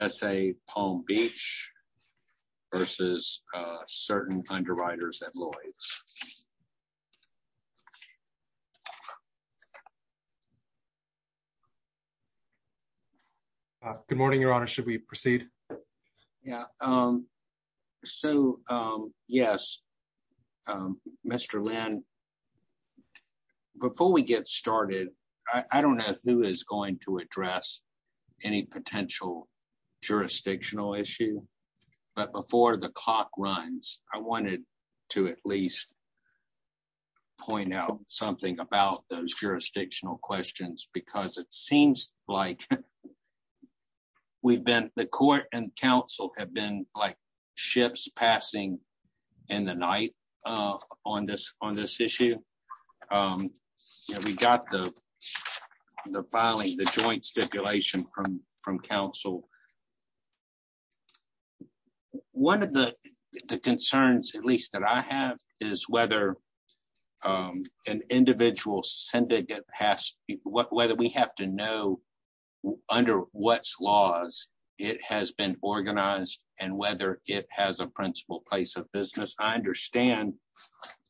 S.A. Palm Beach v. Certain Underwriters at Lloyd's. Good morning, Your Honor. Should we proceed? Yeah. So, yes. Mr. Lynn, before we get started, I don't know who is going to address any potential jurisdictional issue, but before the clock runs, I wanted to at least point out something about those jurisdictional questions because it seems like we've been, the court and counsel have been like ships passing in the night on this issue. We got the filing, the joint stipulation from counsel. One of the concerns, at least that I have, is whether an individual syndicate has, whether we have to know under what laws it has been organized and whether it has a principal place of business. I understand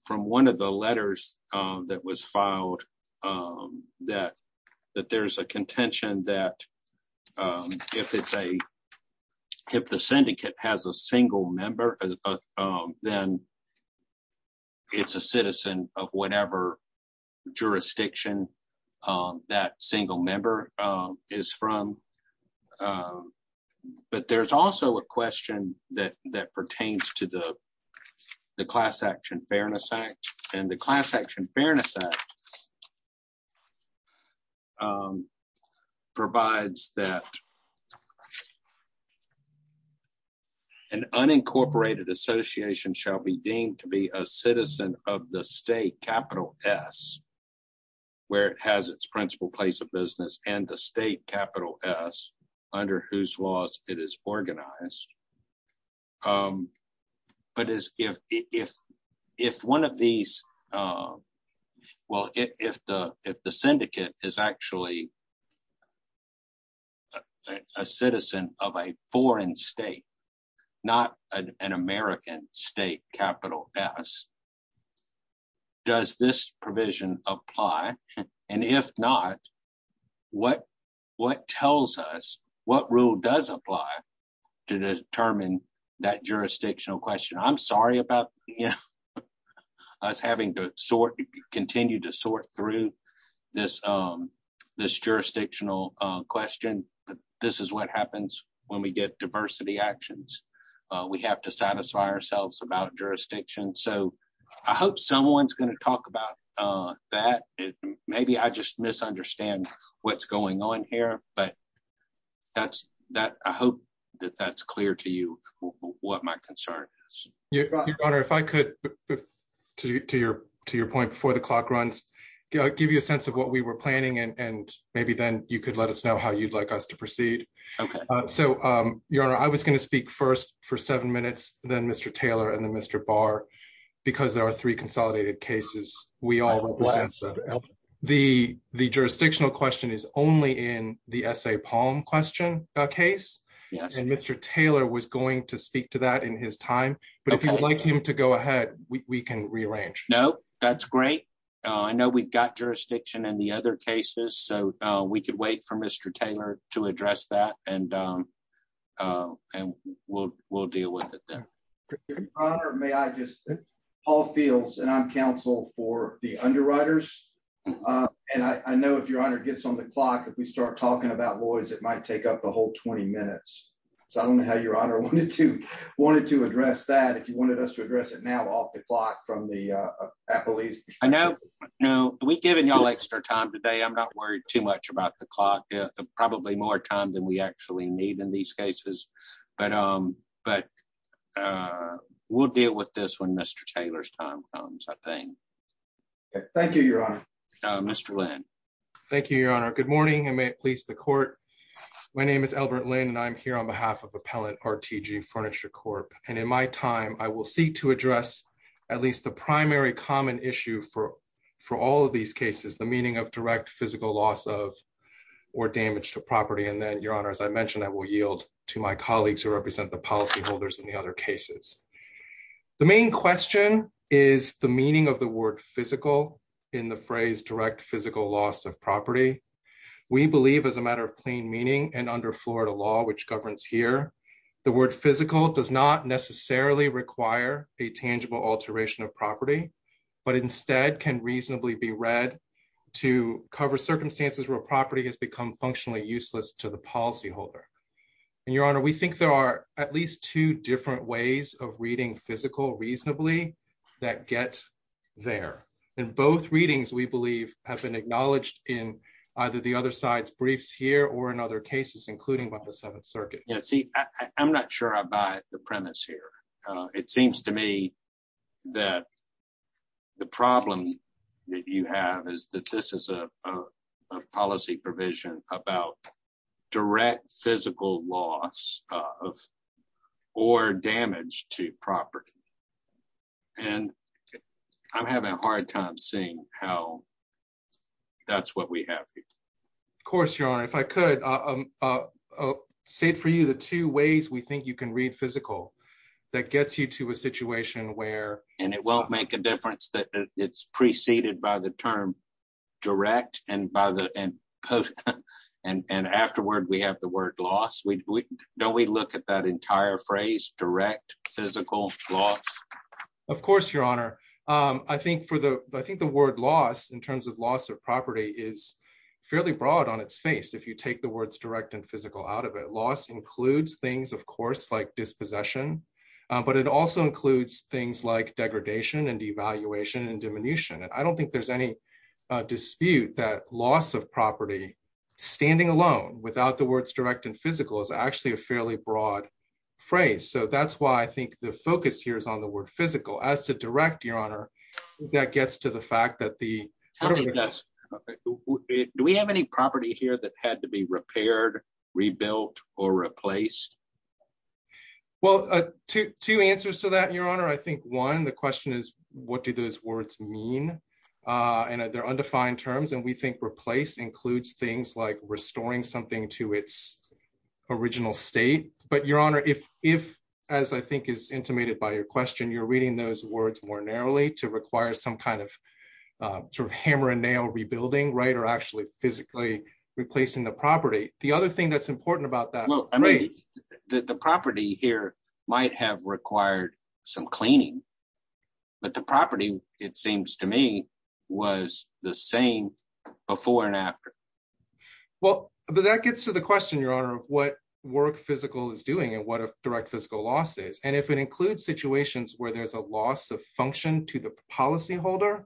from one of the letters that was filed that there's a contention that if the syndicate has a single member, then it's a citizen of whatever jurisdiction that single member is from, but there's also a question that pertains to the Class Action Fairness Act, and the Class Action Fairness Act provides that an unincorporated association shall be deemed to be a citizen of the state, capital S, where it has its principal place of business, and the state, capital S, under whose laws it is organized, but if the syndicate is actually a citizen of a foreign state, not an American state, capital S, does this provision apply, and if not, what rule does apply to determine that jurisdictional question? I'm sorry about us having to continue to sort through this jurisdictional question, but this is what happens when we get diversity actions. We have to satisfy ourselves about jurisdiction, so I hope someone's going to talk about that. Maybe I just misunderstand what's going on here, but I hope that that's clear to you what my concern is. Your Honor, if I could, to your point before the clock runs, give you a sense of what we were planning, and maybe then you could let us know how you'd like us to proceed. Your Honor, I was going to speak first for seven minutes, then Mr. Taylor and then Mr. Barr, because there are three consolidated cases we all represent. The jurisdictional question is only in the essay palm question case, and Mr. Taylor was going to speak to that in his time, but if you'd like him to go ahead, we can rearrange. No, that's great. I know we've got Mr. Taylor to address that, and we'll deal with it then. Your Honor, may I just? Paul Fields, and I'm counsel for the underwriters, and I know if your Honor gets on the clock, if we start talking about Lloyd's, it might take up the whole 20 minutes, so I don't know how your Honor wanted to address that, if you wanted us to address it now off the clock from the appellees. I know, we've given y'all extra time today. I'm not worried too much about the clock, probably more time than we actually need in these cases, but we'll deal with this when Mr. Taylor's time comes, I think. Thank you, Your Honor. Mr. Lin. Thank you, Your Honor. Good morning, and may it please the court. My name is Albert Lin, and I'm here on behalf of Appellant RTG Furniture Corp, and in my time, I will seek to address at least the primary common issue for all of these cases, the meaning of direct physical loss of or damage to property, and then, Your Honor, as I mentioned, I will yield to my colleagues who represent the policyholders in the other cases. The main question is the meaning of the word physical in the phrase direct physical loss of property. We believe as a matter of plain meaning, and under Florida law, which governs here, the word physical does not necessarily require a tangible alteration of property, but instead can reasonably be read to cover circumstances where property has become functionally useless to the policyholder, and, Your Honor, we think there are at least two different ways of reading physical reasonably that get there, and both readings, we believe, have been acknowledged in either the other side's briefs here or in other cases, including by the Seventh Circuit. Yeah, see, I'm not sure about the premise here. It seems to me that the problem that you have is that this is a policy provision about direct physical loss of or damage to property, and I'm having a hard time seeing how that's what we have here. Of course, Your Honor. If I could say it for you, the two ways we think you can read physical that gets you to a situation where and it won't make a difference that it's preceded by the term direct and by the and and afterward we have the word loss. Don't we look at that entire phrase direct physical loss? Of course, Your Honor. I think for the I think the word loss in terms of loss of property is fairly broad on its face. If you take the words direct and physical out of it, loss includes things, of course, like dispossession, but it also includes things like degradation and devaluation and diminution, and I don't think there's any dispute that loss of property standing alone without the words direct and physical is actually a fairly broad phrase, so that's why I think the focus here is on the word physical. As to direct, Your Honor, that gets to the fact that the. Do we have any property here that had to be repaired, rebuilt, or replaced? Well, two answers to that, Your Honor. I think one, the question is what do those words mean, and they're undefined terms, and we think replace includes things like restoring something to its original state, but, Your Honor, if as I think is intimated by your you're reading those words more narrowly to require some kind of sort of hammer and nail rebuilding, right, or actually physically replacing the property, the other thing that's important about that. Well, I mean the property here might have required some cleaning, but the property, it seems to me, was the same before and after. Well, but that gets to the question, Your Honor, of what work physical is doing and what a direct physical loss is, if it includes situations where there's a loss of function to the policyholder,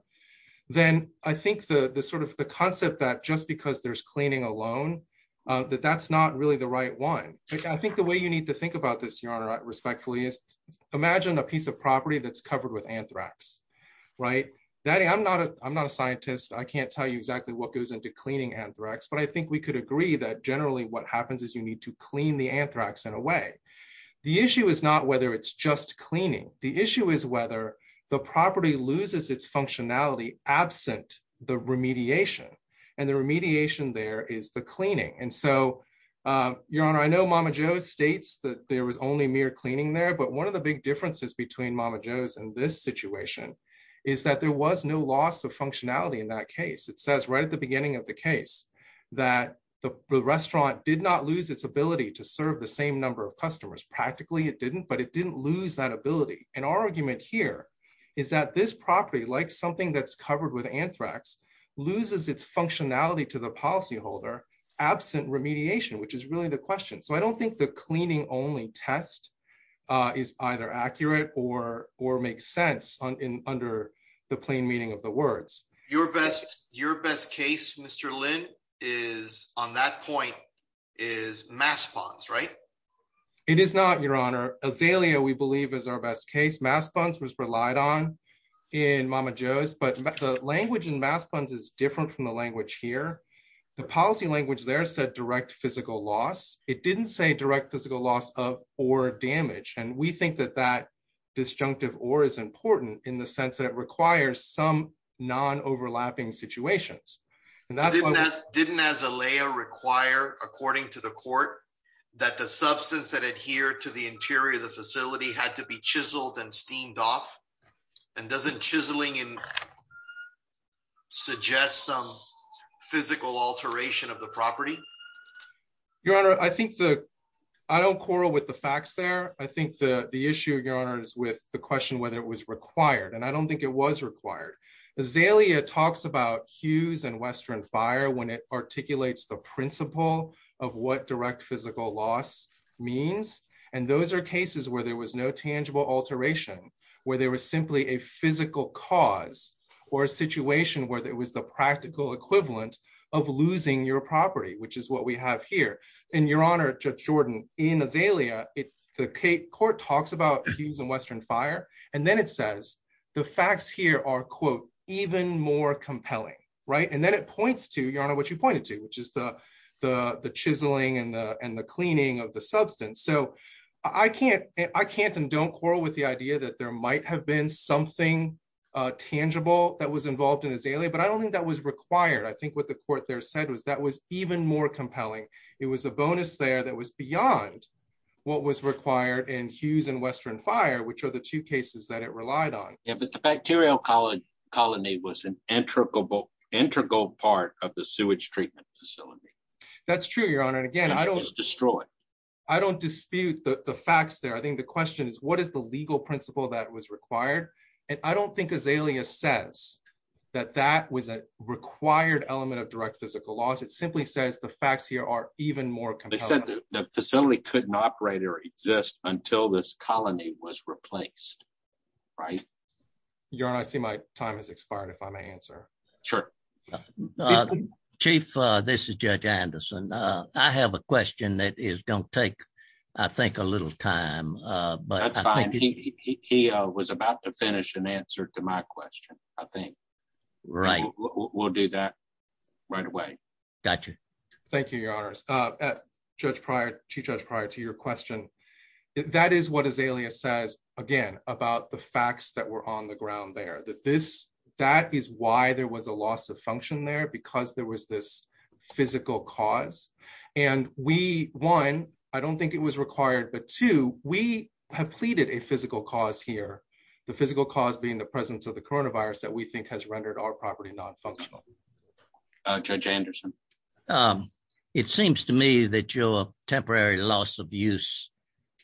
then I think the sort of the concept that just because there's cleaning alone that that's not really the right one. I think the way you need to think about this, Your Honor, respectfully is imagine a piece of property that's covered with anthrax, right? I'm not a scientist. I can't tell you exactly what goes into cleaning anthrax, but I think we could agree that generally what happens is you need to have a piece of property where it's just cleaning. The issue is whether the property loses its functionality absent the remediation, and the remediation there is the cleaning. And so, Your Honor, I know Mama Jo's states that there was only mere cleaning there, but one of the big differences between Mama Jo's and this situation is that there was no loss of functionality in that case. It says right at the beginning of the case that the restaurant did not lose its ability to serve the same number of customers. Practically, it didn't, but it didn't lose that ability. And our argument here is that this property, like something that's covered with anthrax, loses its functionality to the policyholder absent remediation, which is really the question. So I don't think the cleaning only test is either accurate or makes sense under the plain meaning of the words. Your best case, Mr. Lin, on that point is mass funds, right? It is not, Your Honor. Azalea, we believe, is our best case. Mass funds was relied on in Mama Jo's, but the language in mass funds is different from the language here. The policy language there said direct physical loss. It didn't say direct physical loss of or damage, and we think that that disjunctive or is important in the sense that it requires some non-overlapping situations. Didn't Azalea require, according to the court, that the substance that adhered to the interior of the facility had to be chiseled and steamed off? And doesn't chiseling suggest some physical alteration of the property? Your Honor, I don't quarrel with the facts there. I think the issue, Your Honor, is with the question whether it was required, and I don't think it was required. Azalea talks about Hughes and Western Fire when it articulates the principle of what direct physical loss means, and those are cases where there was no tangible alteration, where there was simply a physical cause or a situation where it was the practical equivalent of losing your property, which is what we have here. And Your Honor, Judge Jordan, in Azalea, the court talks about Hughes and Western Fire, and then it says the facts here are, quote, even more compelling, right? And then it points to, Your Honor, what you pointed to, which is the chiseling and the cleaning of the substance. So I can't and don't quarrel with the idea that there might have been something tangible that was involved in Azalea, but I don't think that was required. I think what the court there said was that was even more compelling. It was a bonus there that was beyond what was required in Hughes and Western Fire, which are the two cases that it relied on. Yeah, but the bacterial colony was an integrable part of the sewage treatment facility. That's true, Your Honor, and again, I don't... It was destroyed. I don't dispute the facts there. I think the question is, what is the legal principle that was required? And I don't think Azalea says that that was a required element of direct physical loss. It simply says the facts here are even more compelling. They said the colony was replaced, right? Your Honor, I see my time has expired, if I may answer. Sure. Chief, this is Judge Anderson. I have a question that is going to take, I think, a little time, but... That's fine. He was about to finish and answer to my question, I think. Right. We'll do that right away. Got you. Thank you, Your Honors. Judge Pryor, Chief Judge Pryor, to your question, that is what Azalea says, again, about the facts that were on the ground there. That is why there was a loss of function there, because there was this physical cause. And we, one, I don't think it was required, but two, we have pleaded a physical cause here. The physical cause being the presence of the coronavirus that we think has rendered our property non-functional. Judge Anderson. It seems to me that your temporary loss of use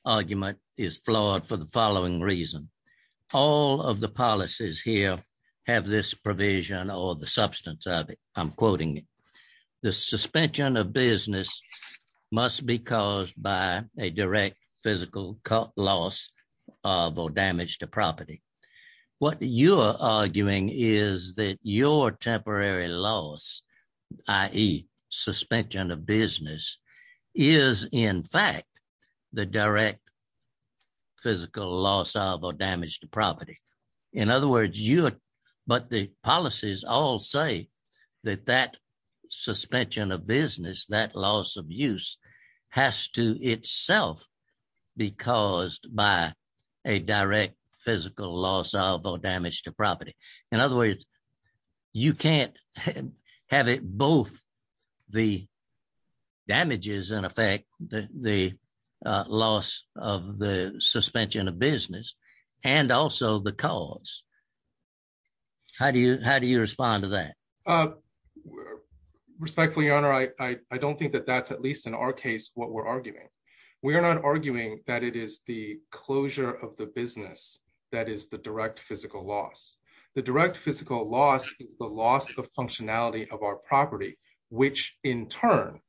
argument is flawed for the following reason. All of the policies here have this provision or the substance of it. I'm quoting it. The suspension of business must be caused by a direct physical loss of or damage to property. What you're arguing is that your temporary loss, i.e. suspension of business, is, in fact, the direct physical loss of or damage to property. In other words, but the policies all say that that suspension of business, that loss of use, has to itself be caused by a direct physical loss of or damage to property. In other words, you can't have it both the damages in effect, the loss of the suspension of business, and also the cause. How do you respond to that? Respectfully, Your Honor, I don't think that that's at least in our case what we're arguing. We are not arguing that it is the closure of the business that is the direct physical loss. The direct physical loss is the loss of functionality of our property, which in turn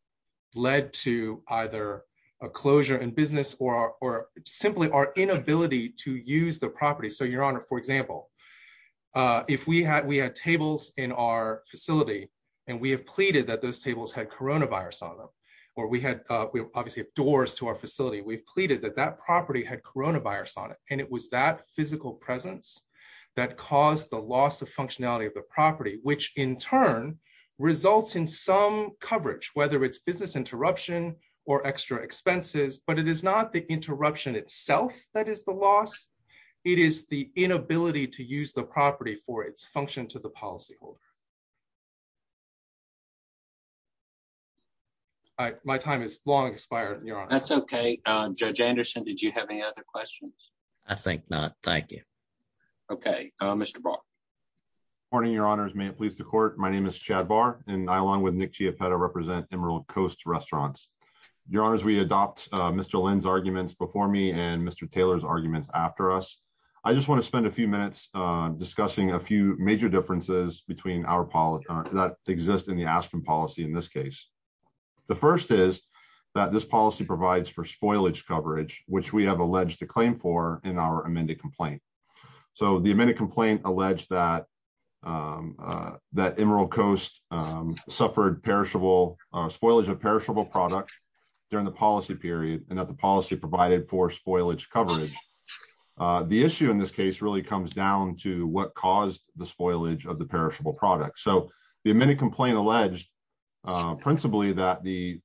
led to either a closure in business or simply our inability to use the property. Your Honor, for example, if we had tables in our facility and we have pleaded that those obviously have doors to our facility, we've pleaded that that property had coronavirus on it, and it was that physical presence that caused the loss of functionality of the property, which in turn results in some coverage, whether it's business interruption or extra expenses, but it is not the interruption itself that is the loss. It is the inability to use the property for its function to the policyholder. My time is long expired, Your Honor. That's okay. Judge Anderson, did you have any other questions? I think not. Thank you. Okay, Mr. Barr. Good morning, Your Honors. May it please the Court, my name is Chad Barr, and I along with Nick Chiapetta represent Emerald Coast Restaurants. Your Honors, we adopt Mr. Lin's arguments before me and Mr. Taylor's arguments after us. I just want to spend a few minutes discussing a few major differences between our that exist in the Aspen policy in this case. The first is that this policy provides for spoilage coverage, which we have alleged to claim for in our amended complaint. So the amended complaint alleged that Emerald Coast suffered spoilage of perishable product during the policy period, and that the policy provided for spoilage coverage. The issue in this case really comes down to what caused the spoilage of the perishable product. So the amended complaint alleged principally that the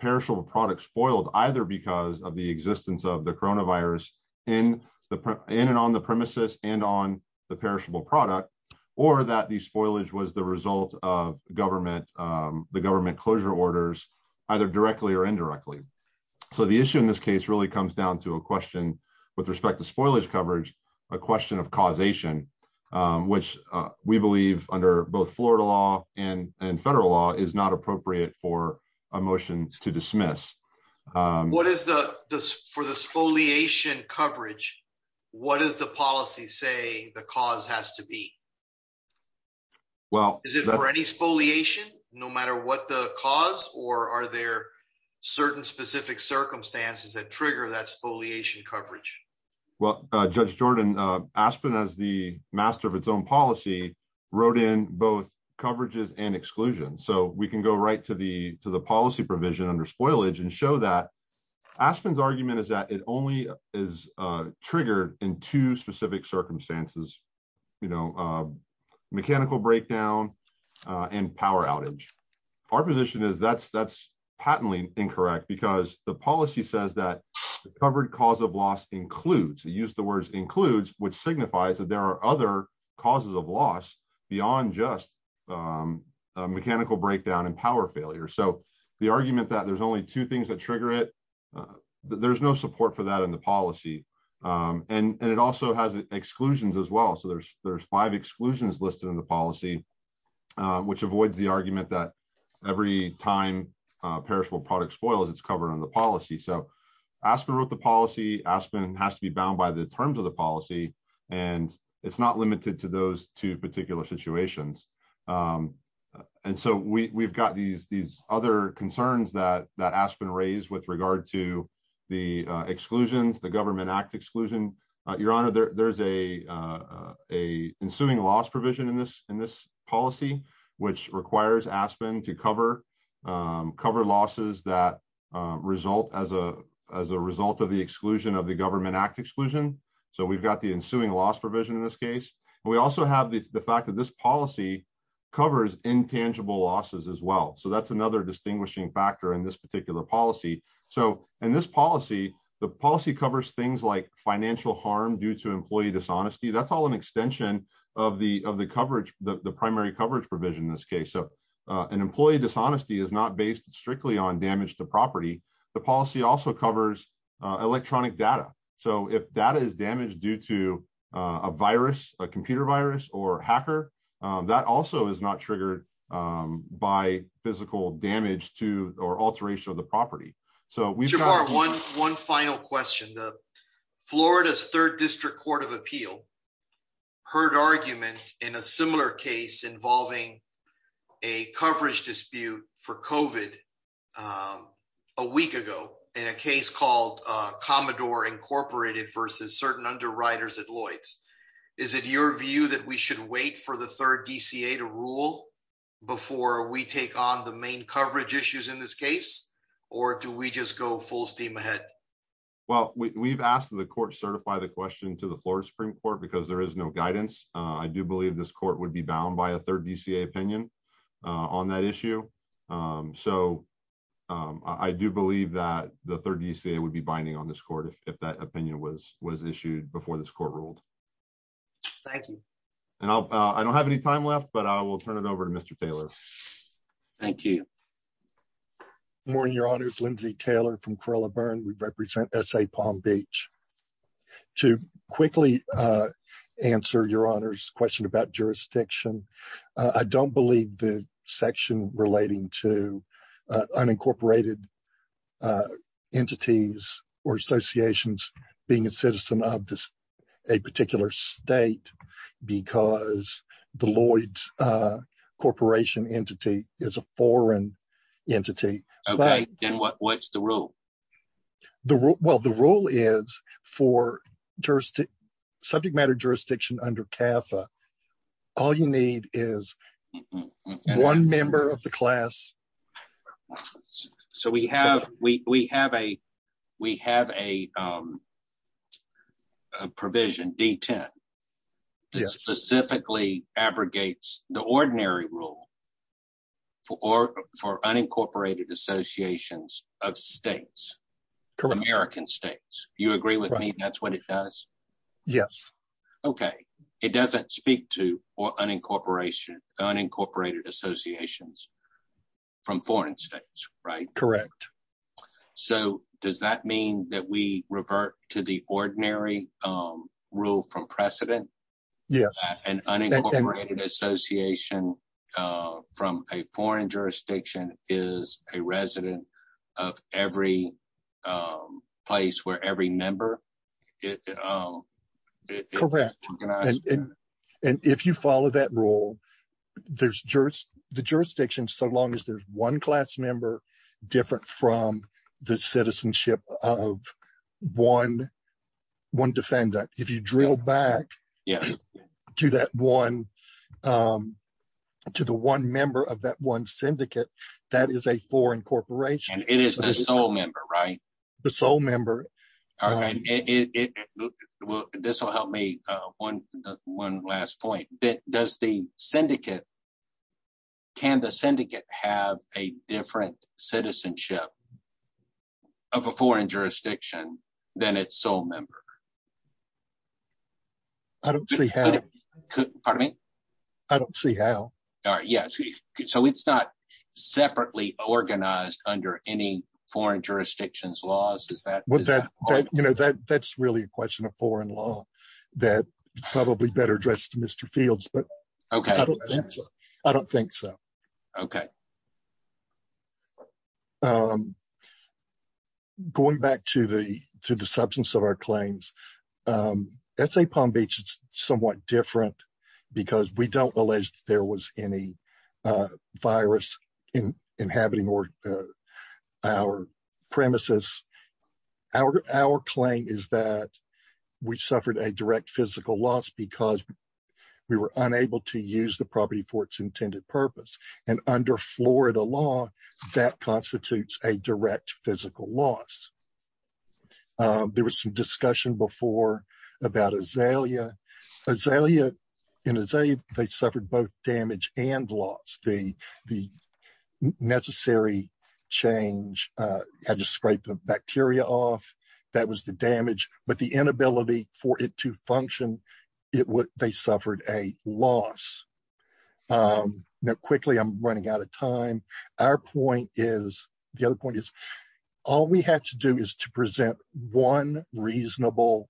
perishable product spoiled either because of the existence of the coronavirus in and on the premises and on the perishable product, or that the spoilage was the result of the government closure orders, either directly or indirectly. So the issue in this case really comes down to a question with respect to spoilage coverage, a question of causation, which we believe under both Florida law and federal law is not appropriate for a motion to dismiss. For the spoliation coverage, what does the policy say the cause has to be? Well, is it for any spoliation, no matter what the cause, or are there certain specific circumstances that trigger that spoliation coverage? Well, Judge Jordan, Aspen as the master of its own policy, wrote in both coverages and exclusions. So we can go right to the to the policy provision under spoilage and show that Aspen's argument is that it only is triggered in two specific circumstances, mechanical breakdown and power outage. Our position is that's patently incorrect because the policy says that the covered cause of loss includes, it used the words includes, which signifies that there are other causes of loss beyond just mechanical breakdown and power failure. So the argument that there's only two things that trigger it, there's no support for that in the policy. And it also has exclusions as well. So there's five exclusions listed in the policy, which avoids the argument that every time perishable product spoils, it's covered on the policy. So Aspen wrote the policy, Aspen has to be bound by the terms of the policy. And it's not limited to those two particular situations. And so we've got these other concerns that Aspen raised with regard to the exclusions, the Government Act exclusion. Your Honor, there's a ensuing loss provision in this policy, which requires Aspen to cover losses that result as a result of the exclusion of the Government Act exclusion. So we've got the ensuing loss provision in this case. We also have the fact that this policy covers intangible losses as well. So that's another distinguishing factor in this particular policy. So in this policy, the policy covers things like financial harm due to employee dishonesty. That's all an extension of the primary coverage provision in this case. So an employee dishonesty is not based strictly on damage to property. The policy also covers electronic data. So if data is damaged due to a computer virus or hacker, that also is not triggered by physical damage to or alteration of the property. So we've got one final question. The Florida's Third District Court of Appeal heard argument in a similar case involving a coverage dispute for COVID a week ago in a Is it your view that we should wait for the third DCA to rule before we take on the main coverage issues in this case? Or do we just go full steam ahead? Well, we've asked the court certify the question to the Florida Supreme Court because there is no guidance. I do believe this court would be bound by a third DCA opinion on that issue. So I do believe that the third DCA would be binding on this court if that opinion was was issued before this court ruled. Thank you. And I don't have any time left, but I will turn it over to Mr. Taylor. Thank you. Morning, your honor's Lindsay Taylor from Cora burn. We represent SA Palm Beach. To quickly answer your honor's question about jurisdiction. I don't believe the section relating to unincorporated entities or associations being a citizen of this a particular state because the Lloyd's corporation entity is a foreign entity. Okay, then what what's the rule? Well, the rule is for jurisdiction, subject matter jurisdiction under CAFA. All you need is one member of the class. So we have we have a we have a provision D 10. This specifically abrogates the ordinary rule for for unincorporated associations of states, American states. You agree with me? That's what it does? Yes. Okay. It doesn't speak to unincorporation, unincorporated associations from foreign states, right? Correct. So does that mean that we revert to the ordinary rule from precedent? Yes. And unincorporated association from a foreign jurisdiction is a resident of every place where every member it correct. And if you follow that rule, there's jurors, the jurisdiction, so long as there's one class member different from the citizenship of one, one defendant, if you drill back, yeah, do that one. To the one member of that one syndicate, that is a foreign corporation, it is the sole member, right? The sole member. All right. This will help me one, one last point that does the syndicate? Can the syndicate have a different citizenship of a foreign jurisdiction than its sole member? I don't see how. Pardon me? I don't see how. Yes. So it's not separately organized under any foreign jurisdictions laws. Is that what that, you know, that that's really a question of foreign law that probably better address to Mr. Fields, but okay. I don't think so. Okay. Going back to the, to the substance of our claims, that's a Palm Beach, it's somewhat different, because we don't believe there was any virus in inhabiting our premises. Our, our claim is that we suffered a direct physical loss because we were unable to use the property for its intended purpose. And under Florida law, that constitutes a direct physical loss. There was some discussion before about Azalea. Azalea, in Azalea, they suffered both damage and loss. The, the necessary change had to scrape the bacteria off. That was the damage, but the inability for it to function, it would, they suffered a loss. Now quickly, I'm running out of time. Our point is, the other point is, all we have to do is to present one reasonable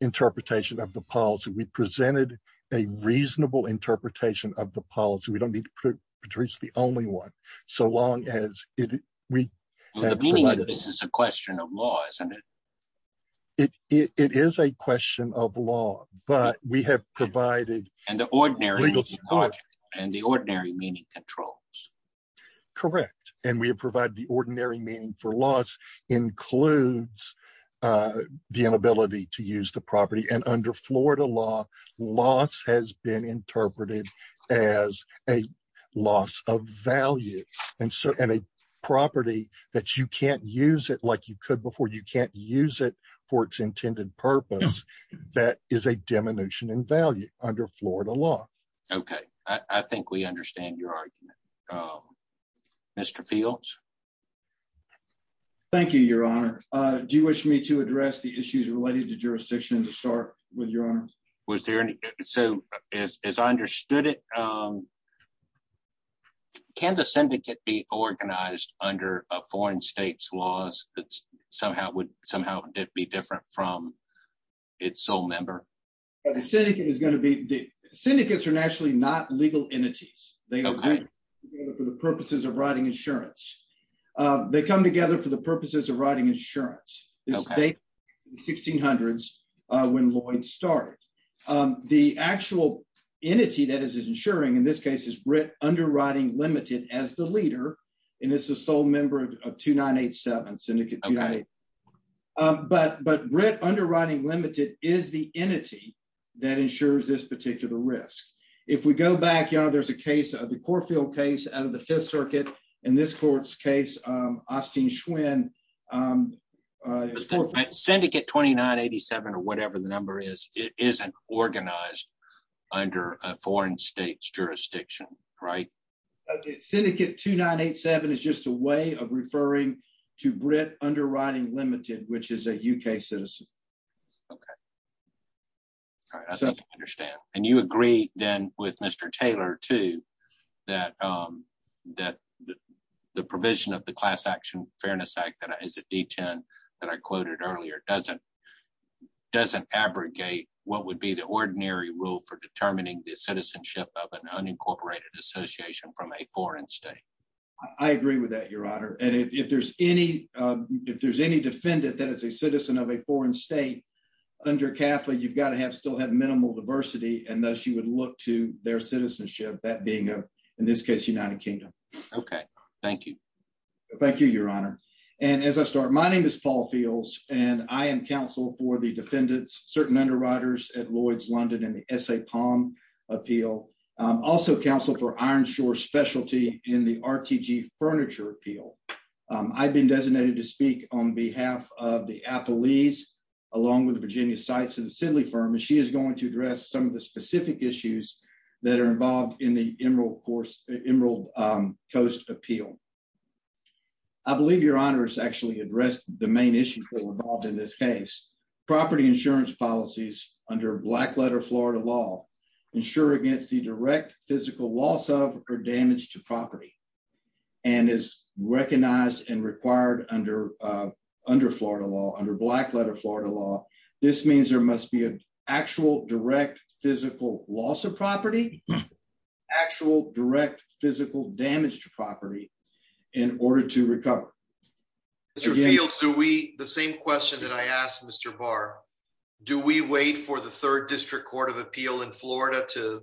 interpretation of the policy. We presented a reasonable interpretation of the policy. We don't need to produce the only one, so long as it, we have provided. This is a question of law, isn't it? It, it is a question of law, but we have provided. And the ordinary, and the ordinary meaning controls. Correct. And we have provided the ordinary meaning for loss includes the inability to use the property. And under Florida law, loss has been interpreted as a loss of value. And so, and a property that you can't use it like you could before, you can't use it for its intended purpose. That is a diminution in value under Florida law. Okay. I think we understand your argument. Mr. Fields? Thank you, Your Honor. Do you wish me to address the issues related to jurisdiction to start with, Your Honor? Was there any, so as I understood it, can the syndicate be organized under a foreign state's laws that somehow would, somehow it'd be different from its sole member? The syndicate is going to be, the syndicates are actually not legal entities. Okay. They come together for the purposes of writing insurance. They come together for the purposes of writing insurance. Okay. This date is the 1600s when Lloyd started. The actual entity that is insuring in this case is Britt Underwriting Limited as the leader. And it's a sole member of 2987, Syndicate 2987. Okay. But, but Britt Underwriting Limited is the entity that insures this particular risk. If we go back, Your Honor, there's a case, the Corfield case out of the Fifth Circuit. In this court's case, Austin Schwinn. Syndicate 2987 or whatever the number is, it isn't organized under a foreign state's jurisdiction, right? Syndicate 2987 is just a way of referring to Britt Underwriting Limited, which is a UK citizen. Okay. All right. I think I understand. And you agree then with Mr. Taylor too, that, that the provision of the Class Action Fairness Act that is a D10 that I quoted earlier doesn't, doesn't abrogate what would be the ordinary rule for determining the citizenship of an unincorporated association from a foreign state. I agree with that, Your Honor. And if there's any, if there's any defendant that is a citizen of a foreign state under Catholic, you've got to have, still have minimal diversity. And thus you would look to their citizenship, that being a, in this case, United Kingdom. Okay. Thank you. Thank you, Your Honor. And as I start, my name is Paul Fields and I am counsel for the defendants, certain underwriters at Lloyd's London and the SA Palm Appeal. I'm also counsel for Iron Shore Specialty in the RTG Furniture Appeal. I've been designated to speak on behalf of the Appalese along with the Virginia Sites and Assembly Firm, and she is going to address some of the specific issues that are involved in the Emerald Coast Appeal. I believe Your Honor has actually addressed the main issue involved in this case. Property insurance policies under Blackletter Florida law ensure against the direct physical loss of or damage to property and is recognized and required under, under Florida law, under Blackletter Florida law. This means there must be an actual direct physical loss of property, actual direct physical damage to property in order to recover. Mr. Fields, do we, the same question that I asked Mr. Barr, do we wait for the Third District Court of Appeal in Florida to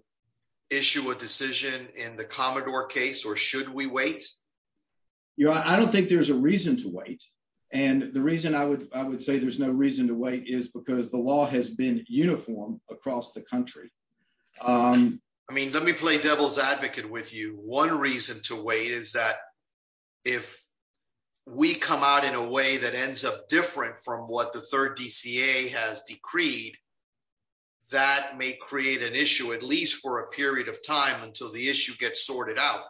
issue a decision in the Commodore case or should we wait? Your Honor, I don't think there's a reason to wait and the reason I would, I would say there's no reason to wait is because the law has been uniform across the country. I mean, let me play devil's advocate with you. One reason to wait is that if we come out in a way that ends up different from what the Third DCA has decreed, that may create an issue, at least for a period of time until the issue gets sorted out,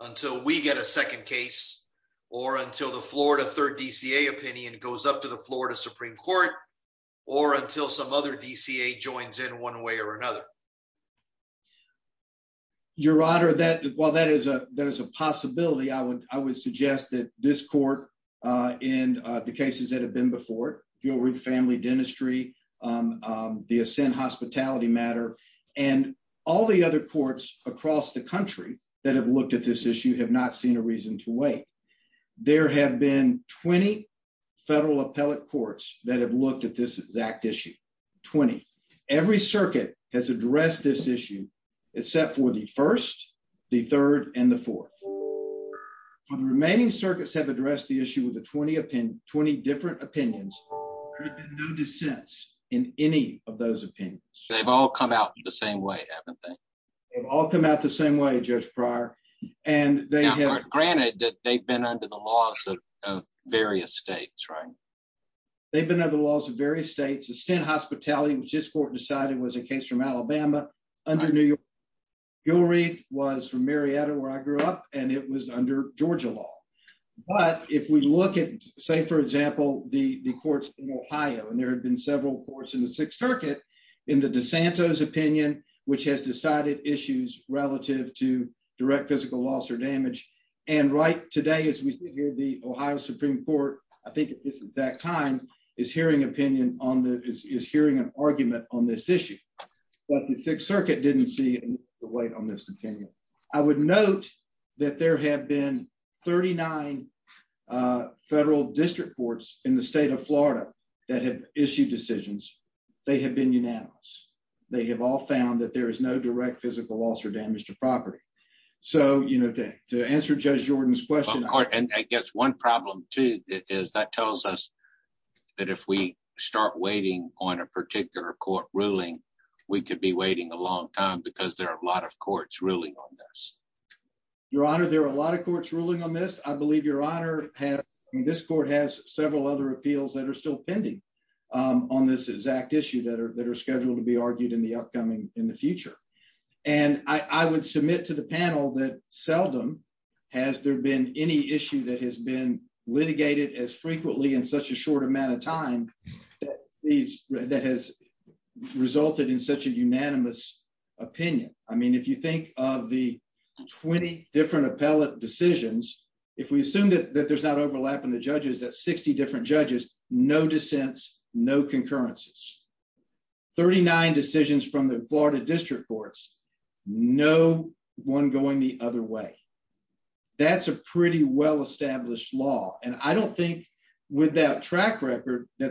until we get a second case or until the Florida Third DCA opinion goes up to the Florida Supreme Court or until some other DCA joins in one way or another. Your Honor, that, while that is a, that is a possibility, I would, I would suggest that this the ascent hospitality matter and all the other courts across the country that have looked at this issue have not seen a reason to wait. There have been 20 federal appellate courts that have looked at this exact issue, 20. Every circuit has addressed this issue except for the first, the third, and the fourth. The remaining circuits have addressed the issue with the 20 20 different opinions. There have been no dissents in any of those opinions. They've all come out the same way, haven't they? They've all come out the same way, Judge Pryor, and they have... Granted that they've been under the laws of various states, right? They've been under the laws of various states. Ascent hospitality, which this court decided was a case from Alabama, under New York. Gilreath was from Marietta, where I grew up, and it was Georgia law. But if we look at, say, for example, the courts in Ohio, and there have been several courts in the Sixth Circuit, in the DeSantos opinion, which has decided issues relative to direct physical loss or damage. And right today, as we sit here, the Ohio Supreme Court, I think at this exact time, is hearing opinion on the, is hearing an argument on this issue. But the Sixth Circuit didn't see the weight on this opinion. I would note that there have been 39 federal district courts in the state of Florida that have issued decisions. They have been unanimous. They have all found that there is no direct physical loss or damage to property. So, you know, to answer Judge Jordan's question... Of course, and I guess one problem, too, is that tells us that if we start waiting on a particular court ruling, we could be waiting a long time, because there are a lot of courts ruling on this. Your Honor, there are a lot of courts ruling on this. I believe Your Honor has, this court has several other appeals that are still pending on this exact issue that are scheduled to be argued in the upcoming, in the future. And I would submit to the panel that seldom has there been any issue that has been litigated as frequently in such a short amount of time that has resulted in such a unanimous opinion. I mean, if you think of the 20 different appellate decisions, if we assume that there's not overlap in the judges, that's 60 different judges, no dissents, no concurrences. 39 decisions from the Florida district courts, no one going the that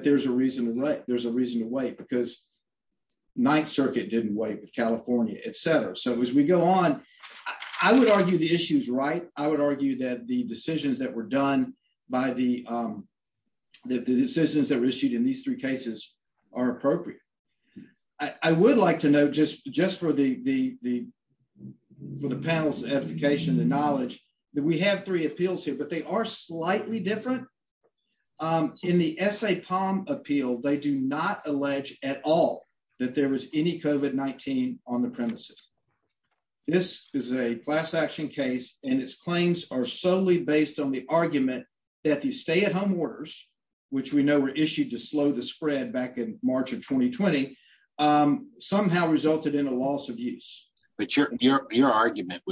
there's a reason to wait. There's a reason to wait, because Ninth Circuit didn't wait with California, etc. So as we go on, I would argue the issue's right. I would argue that the decisions that were done by the, that the decisions that were issued in these three cases are appropriate. I would like to note, just for the, for the panel's edification and knowledge, that we have three appeals here, but they are slightly different. In the S.A. Palm appeal, they do not allege at all that there was any COVID-19 on the premises. This is a class action case, and its claims are solely based on the argument that these stay-at-home orders, which we know were issued to slow the spread back in March of 2020, somehow resulted in a loss of use. But your argument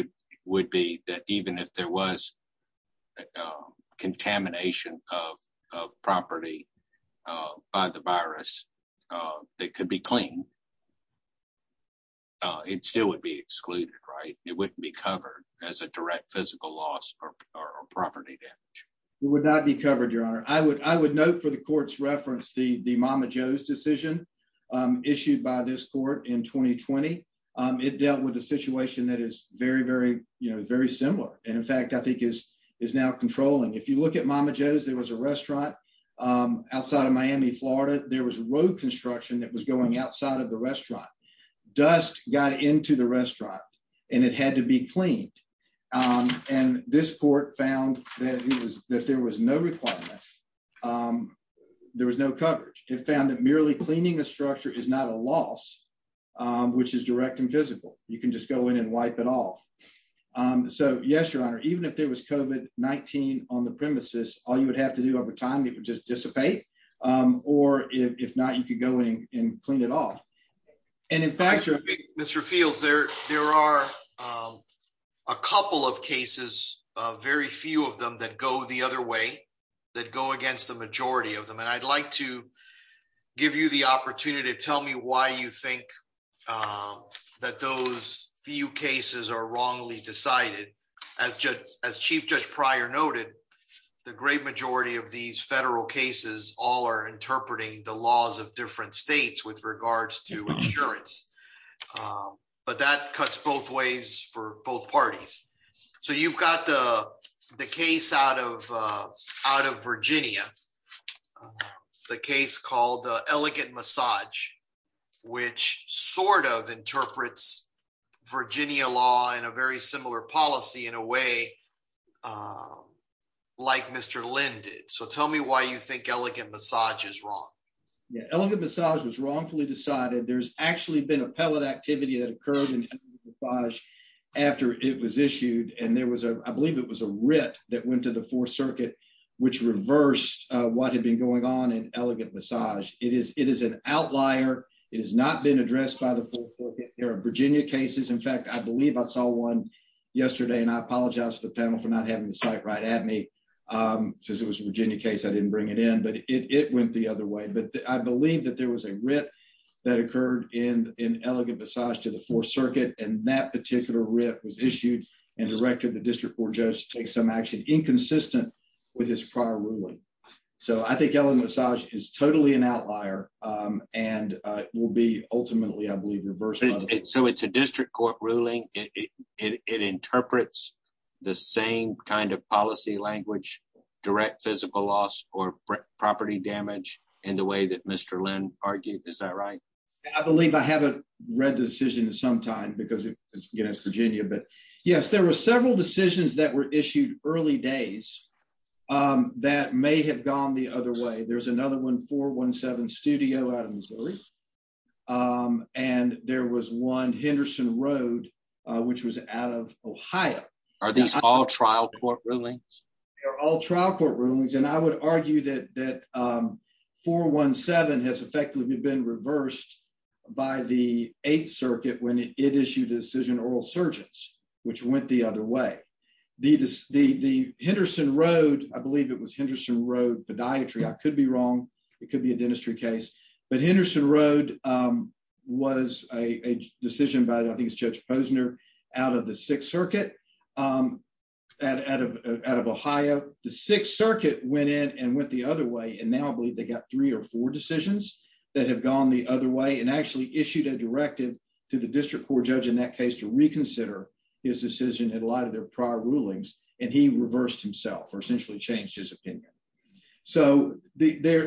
would be that even if there was contamination of property by the virus that could be clean, it still would be excluded, right? It wouldn't be covered as a direct physical loss or property damage. It would not be covered, Your Honor. I would note for the court's reference the Mama Joe's decision issued by this court in 2020. It dealt with a situation that is very, very, very similar, and in fact, I think is now controlling. If you look at Mama Joe's, there was a restaurant outside of Miami, Florida. There was road construction that was going outside of the restaurant. Dust got into the restaurant, and it had to be cleaned. And this court found that there was no requirement. There was no coverage. It found that merely cleaning a structure is not a loss, which is direct and physical. You can just go in and wipe it off. So yes, Your Honor, even if there was COVID-19 on the premises, all you would have to do over time, it would just dissipate. Or if not, you could go in and clean it off. And in fact, Mr. Fields, there are a couple of cases, very few of them that go the other way, that go against the majority of them. And I'd like to give you the opportunity to tell me why you think that those few cases are wrongly decided. As Chief Judge Pryor noted, the great majority of these federal cases all are interpreting the laws of different states with regards to insurance. But that cuts both ways for both parties. So you've got the case out of Virginia, the case called Elegant Massage, which sort of interprets Virginia law in a very similar policy in a way like Mr. Lynn did. So tell me why you think Elegant Massage is wrong. Elegant Massage was wrongfully decided. There's actually been a pellet activity that occurred in Elegant Massage after it was issued. And there was, I believe it was a writ that went to the what had been going on in Elegant Massage. It is an outlier. It has not been addressed by the Fourth Circuit. There are Virginia cases. In fact, I believe I saw one yesterday, and I apologize to the panel for not having the site right at me. Since it was a Virginia case, I didn't bring it in, but it went the other way. But I believe that there was a writ that occurred in Elegant Massage to the Fourth Circuit, and that particular writ was issued and directed the district court judge to take some action inconsistent with his prior ruling. So I think Elegant Massage is totally an outlier and will be ultimately, I believe, reversible. So it's a district court ruling. It interprets the same kind of policy language, direct physical loss or property damage in the way that Mr. Lynn argued. Is that right? I believe I haven't read the decision in some time because it's against Virginia. But yes, there were several decisions that were issued early days that may have gone the other way. There's another one, 417 Studio out of Missouri, and there was one Henderson Road, which was out of Ohio. Are these all trial court rulings? They're all trial court rulings, and I would argue that 417 has effectively been reversed by the Eighth Circuit when it issued a decision to oral surgeons, which went the other way. The Henderson Road, I believe it was Henderson Road Podiatry, I could be wrong. It could be a dentistry case. But Henderson Road was a decision by, I think it's Judge Posner, out of the Sixth Circuit, out of Ohio. The Sixth Circuit went in and went the other way, and now I believe they got three or four decisions that have gone the other way and actually issued a directive to the district court judge in that case to reconsider his decision in light of their prior rulings, and he reversed himself or essentially changed his opinion. So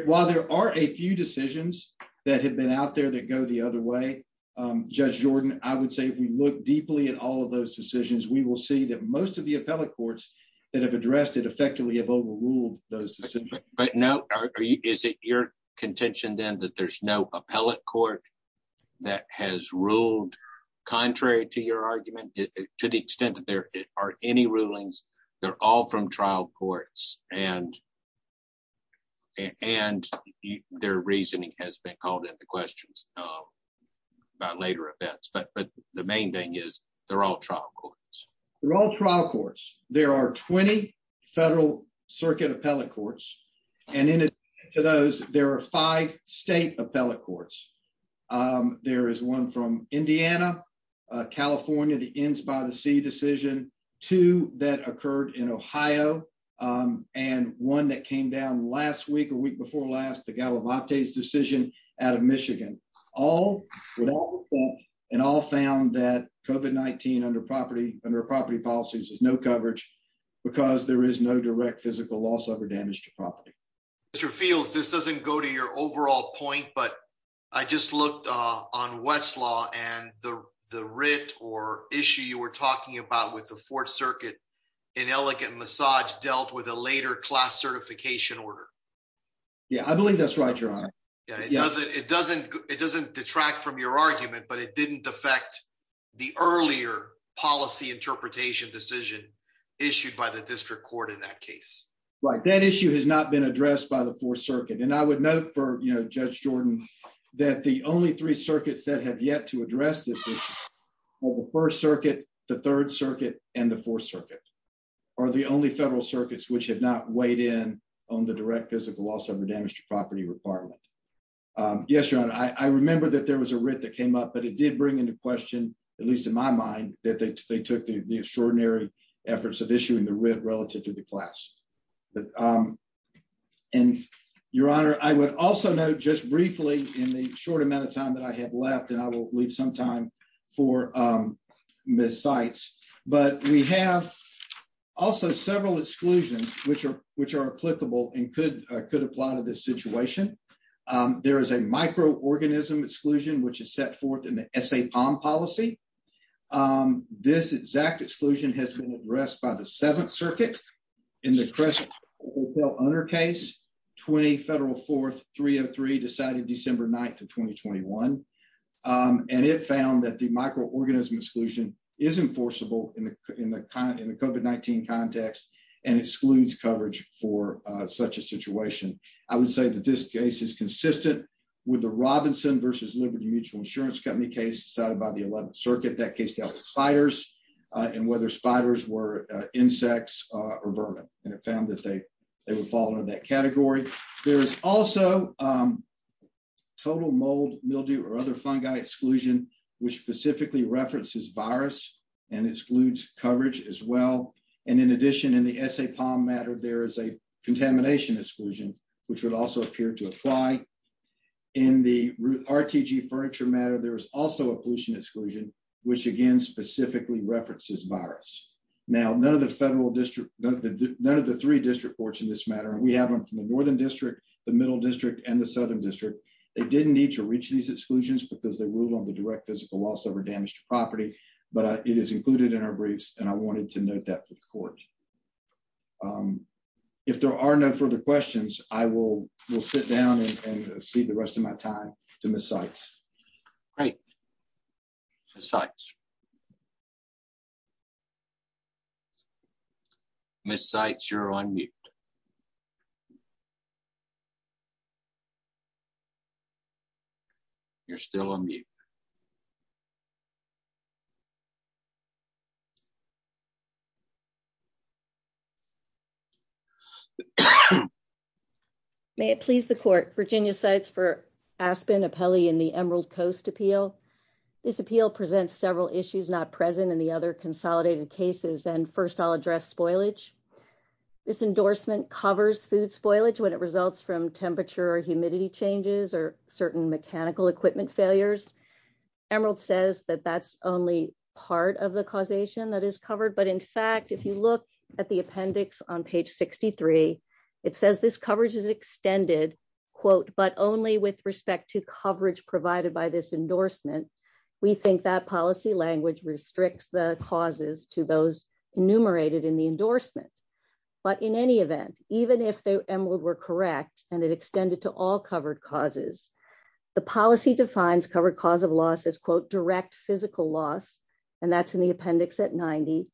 while there are a few decisions that have been out there that go the other way, Judge Jordan, I would say if we look deeply at all of those decisions, we will see that most of the appellate courts that have addressed it effectively have overruled those decisions. But no, is it your contention then that there's no appellate court that has ruled contrary to your argument to the extent that there are any rulings, they're all from trial courts, and their reasoning has been called into question by later events. But the main thing is they're all trial courts. They're all trial courts. There are 20 circuit appellate courts, and in addition to those, there are five state appellate courts. There is one from Indiana, California, the ends by the sea decision, two that occurred in Ohio, and one that came down last week, a week before last, the Galavantes decision out of Michigan. All, with all of that, and all found that COVID-19 under property policies has no coverage because there is no direct physical loss of or damage to property. Mr. Fields, this doesn't go to your overall point, but I just looked on Westlaw and the writ or issue you were talking about with the Fourth Circuit in elegant massage dealt with a later class certification order. Yeah, I believe that's right, Your Honor. Yeah, it doesn't detract from your argument, but it didn't affect the earlier policy interpretation decision issued by the district court in that case. Right. That issue has not been addressed by the Fourth Circuit, and I would note for Judge Jordan that the only three circuits that have yet to address this issue are the First Circuit, the Third Circuit, and the Fourth Circuit, are the only federal circuits which have not weighed in on the direct physical loss of or damage to property requirement. Yes, Your Honor, I remember that there was a writ that came up, but it did bring into question, at least in my mind, that they took the extraordinary efforts of issuing the writ relative to the class. Your Honor, I would also note just briefly in the short amount of time that I have left, and I will leave some time for Ms. Seitz, but we have also several exclusions which are applicable and could apply to this situation. There is a micro-organism exclusion in the Crest Hotel owner case, 20 Federal 4th 303, decided December 9th of 2021, and it found that the micro-organism exclusion is enforceable in the COVID-19 context and excludes coverage for such a situation. I would say that this case is consistent with the Robinson v. Liberty Mutual Insurance Company case decided by the 11th Circuit. That case dealt with spiders and whether spiders were insects or vermin, and it found that they would fall under that category. There is also total mold, mildew, or other fungi exclusion, which specifically references virus and excludes coverage as well, and in addition, in the SA matter, there is a contamination exclusion, which would also appear to apply. In the RTG furniture matter, there is also a pollution exclusion, which again specifically references virus. Now, none of the three district courts in this matter, and we have them from the Northern District, the Middle District, and the Southern District, they didn't need to reach these exclusions because they ruled on the direct physical loss over damaged property, but it is if there are no further questions, I will sit down and see the rest of my time to Ms. Sykes. Great. Ms. Sykes. Ms. Sykes, you're on mute. You're still on mute. Okay. May it please the court. Virginia Sykes for Aspen, Appelli, and the Emerald Coast Appeal. This appeal presents several issues not present in the other consolidated cases, and first I'll address spoilage. This endorsement covers food spoilage when it results from temperature or humidity changes or certain mechanical equipment failures. Emerald says that that's only part of the causation that is covered, but in fact if you look at the policy language on page 63, it says this coverage is extended, quote, but only with respect to coverage provided by this endorsement. We think that policy language restricts the causes to those enumerated in the endorsement, but in any event, even if the Emerald were correct and it extended to all covered causes, the policy defines covered cause of loss as, quote, direct physical loss, and that's in the appendix at 90,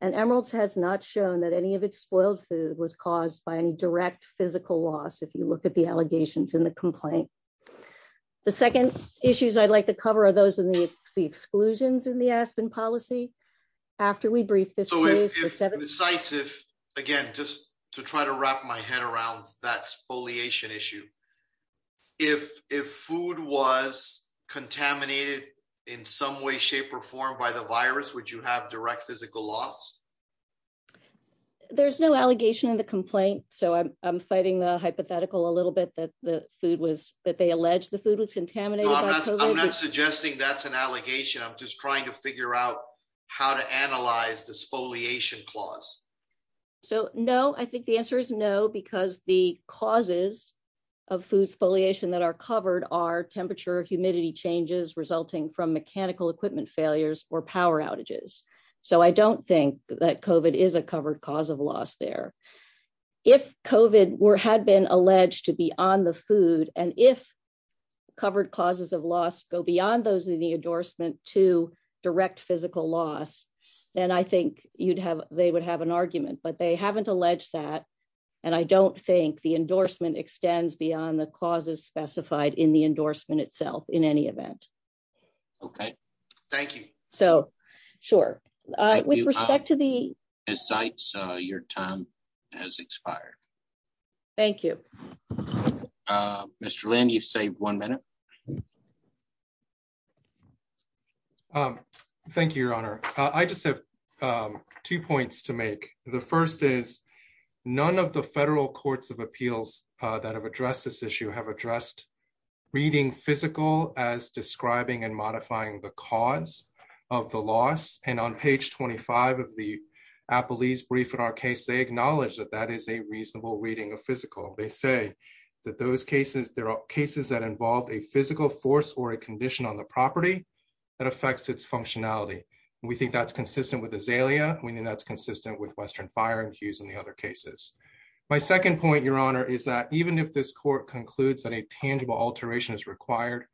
and Emerald has not shown that any of its spoiled food was caused by any direct physical loss if you look at the allegations in the complaint. The second issues I'd like to cover are those in the exclusions in the Aspen policy. After we brief this case. So if Ms. Sykes, if, again, just to try to wrap my head around that spoliation issue, if food was contaminated in some way, shape, or form by the virus, would you have direct physical loss? There's no allegation in the complaint, so I'm fighting the hypothetical a little bit that the food was, that they allege the food was contaminated. I'm not suggesting that's an allegation. I'm just trying to figure out how to analyze the spoliation clause. So no, I think the answer is no, because the causes of food spoliation that are covered are temperature, humidity changes resulting from mechanical equipment failures or power outages. So I don't think that COVID is a covered cause of loss there. If COVID were, had been alleged to be on the food, and if causes of loss go beyond those in the endorsement to direct physical loss, then I think you'd have, they would have an argument, but they haven't alleged that. And I don't think the endorsement extends beyond the causes specified in the endorsement itself in any event. Okay. Thank you. So sure. With respect to the- Ms. Sykes, your time has expired. Thank you. Mr. Lin, you've saved one minute. Thank you, Your Honor. I just have two points to make. The first is, none of the federal courts of appeals that have addressed this issue have addressed reading physical as describing and modifying the cause of the loss. And on page 25 of the brief in our case, they acknowledge that that is a reasonable reading of physical. They say that those cases, there are cases that involve a physical force or a condition on the property that affects its functionality. And we think that's consistent with Azalea. We think that's consistent with Western Fire and Hughes and the other cases. My second point, Your Honor, is that even if this court concludes that a tangible alteration is required,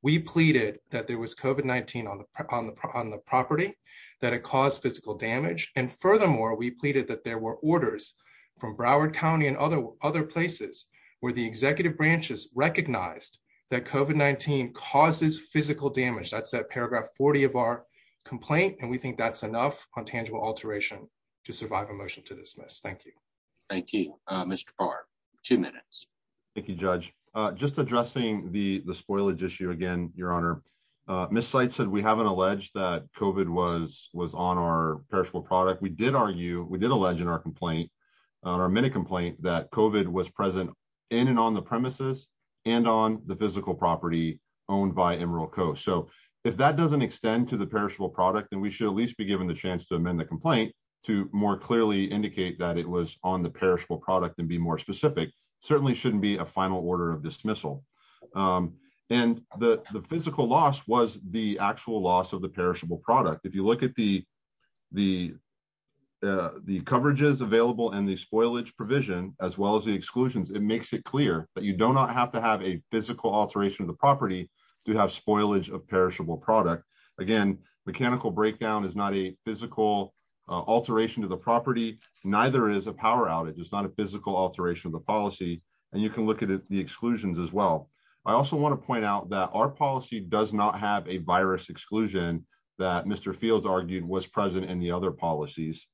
we pleaded that there was COVID-19 on the property, that it caused physical damage. And furthermore, we pleaded that there were orders from Broward County and other places where the executive branches recognized that COVID-19 causes physical damage. That's that paragraph 40 of our complaint. And we think that's enough on tangible alteration to survive a motion to dismiss. Thank you. Thank you, Mr. Barr. Two minutes. Thank you, Judge. Just addressing the miscite said we haven't alleged that COVID was on our perishable product. We did argue, we did allege in our complaint, our minute complaint, that COVID was present in and on the premises and on the physical property owned by Emerald Coast. So if that doesn't extend to the perishable product, then we should at least be given the chance to amend the complaint to more clearly indicate that it was on the perishable product and be more specific. Certainly shouldn't be a final order of dismissal. And the physical loss was the actual loss of the perishable product. If you look at the the the coverages available and the spoilage provision, as well as the exclusions, it makes it clear that you do not have to have a physical alteration of the property to have spoilage of perishable product. Again, mechanical breakdown is not a physical alteration to the property, neither is a power outage. It's not a physical alteration of the exclusions, as well. I also want to point out that our policy does not have a virus exclusion that Mr. Fields argued was present in the other policies.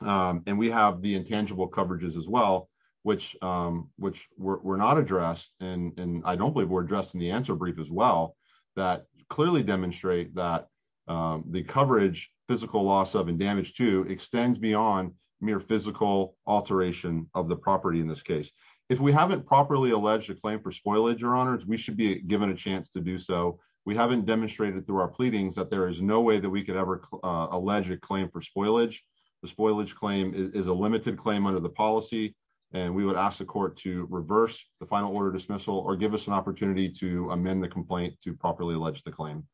And we have the intangible coverages, as well, which were not addressed and I don't believe were addressed in the answer brief, as well, that clearly demonstrate that the coverage physical loss of and damage to extends beyond mere physical alteration of the property. In this case, if we haven't properly alleged a claim for spoilage or honors, we should be given a chance to do so. We haven't demonstrated through our pleadings that there is no way that we could ever allege a claim for spoilage. The spoilage claim is a limited claim under the policy. And we would ask the court to reverse the final order dismissal or give us an opportunity to amend the complaint to properly allege the claim.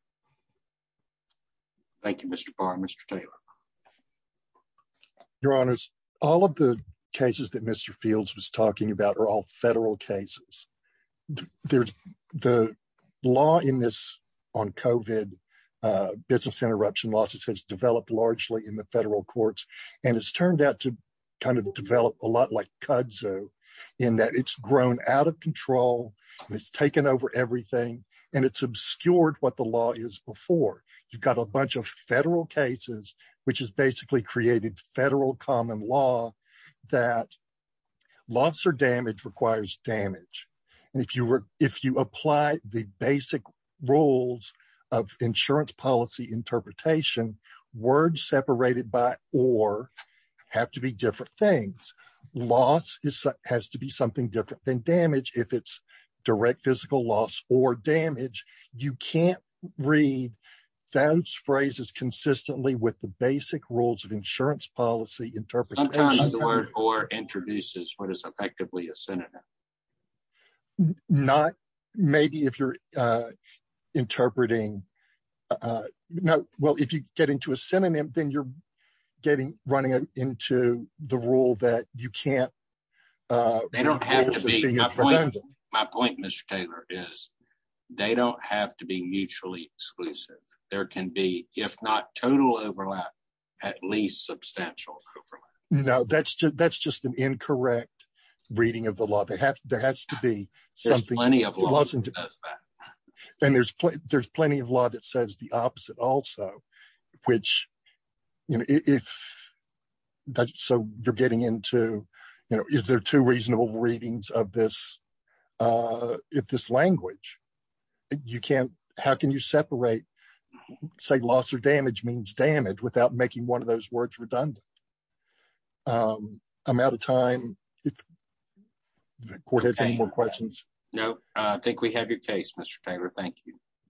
Thank you, Mr. Barr. Mr. Taylor. Your honors, all of the cases that Mr. Fields was talking about are all federal cases. There's the law in this on COVID business interruption losses has developed largely in the federal courts. And it's turned out to kind of develop a lot like kudzu, in that it's grown out of control. It's taken over everything. And it's obscured what the is before, you've got a bunch of federal cases, which is basically created federal common law, that loss or damage requires damage. And if you were if you apply the basic rules of insurance policy interpretation, word separated by or have to be different things. Loss is has to be something different than damage. If it's direct physical loss or damage, you can't read those phrases consistently with the basic rules of insurance policy interpret the word or introduces what is effectively a synonym. Not maybe if you're interpreting. No, well, if you get into a point, my point, Mr. Taylor is, they don't have to be mutually exclusive. There can be if not total overlap, at least substantial. No, that's just that's just an incorrect reading of the law. They have there has to be something plenty of wasn't. And there's, there's plenty of law that says the opposite also, which, you know, if that's so you're getting into, you know, is there two reasonable readings of this? If this language, you can't, how can you separate? Say loss or damage means damage without making one of those words redundant. I'm out of time. If the court has any more questions. No, I think we have your case, Mr. Taylor. Thank you.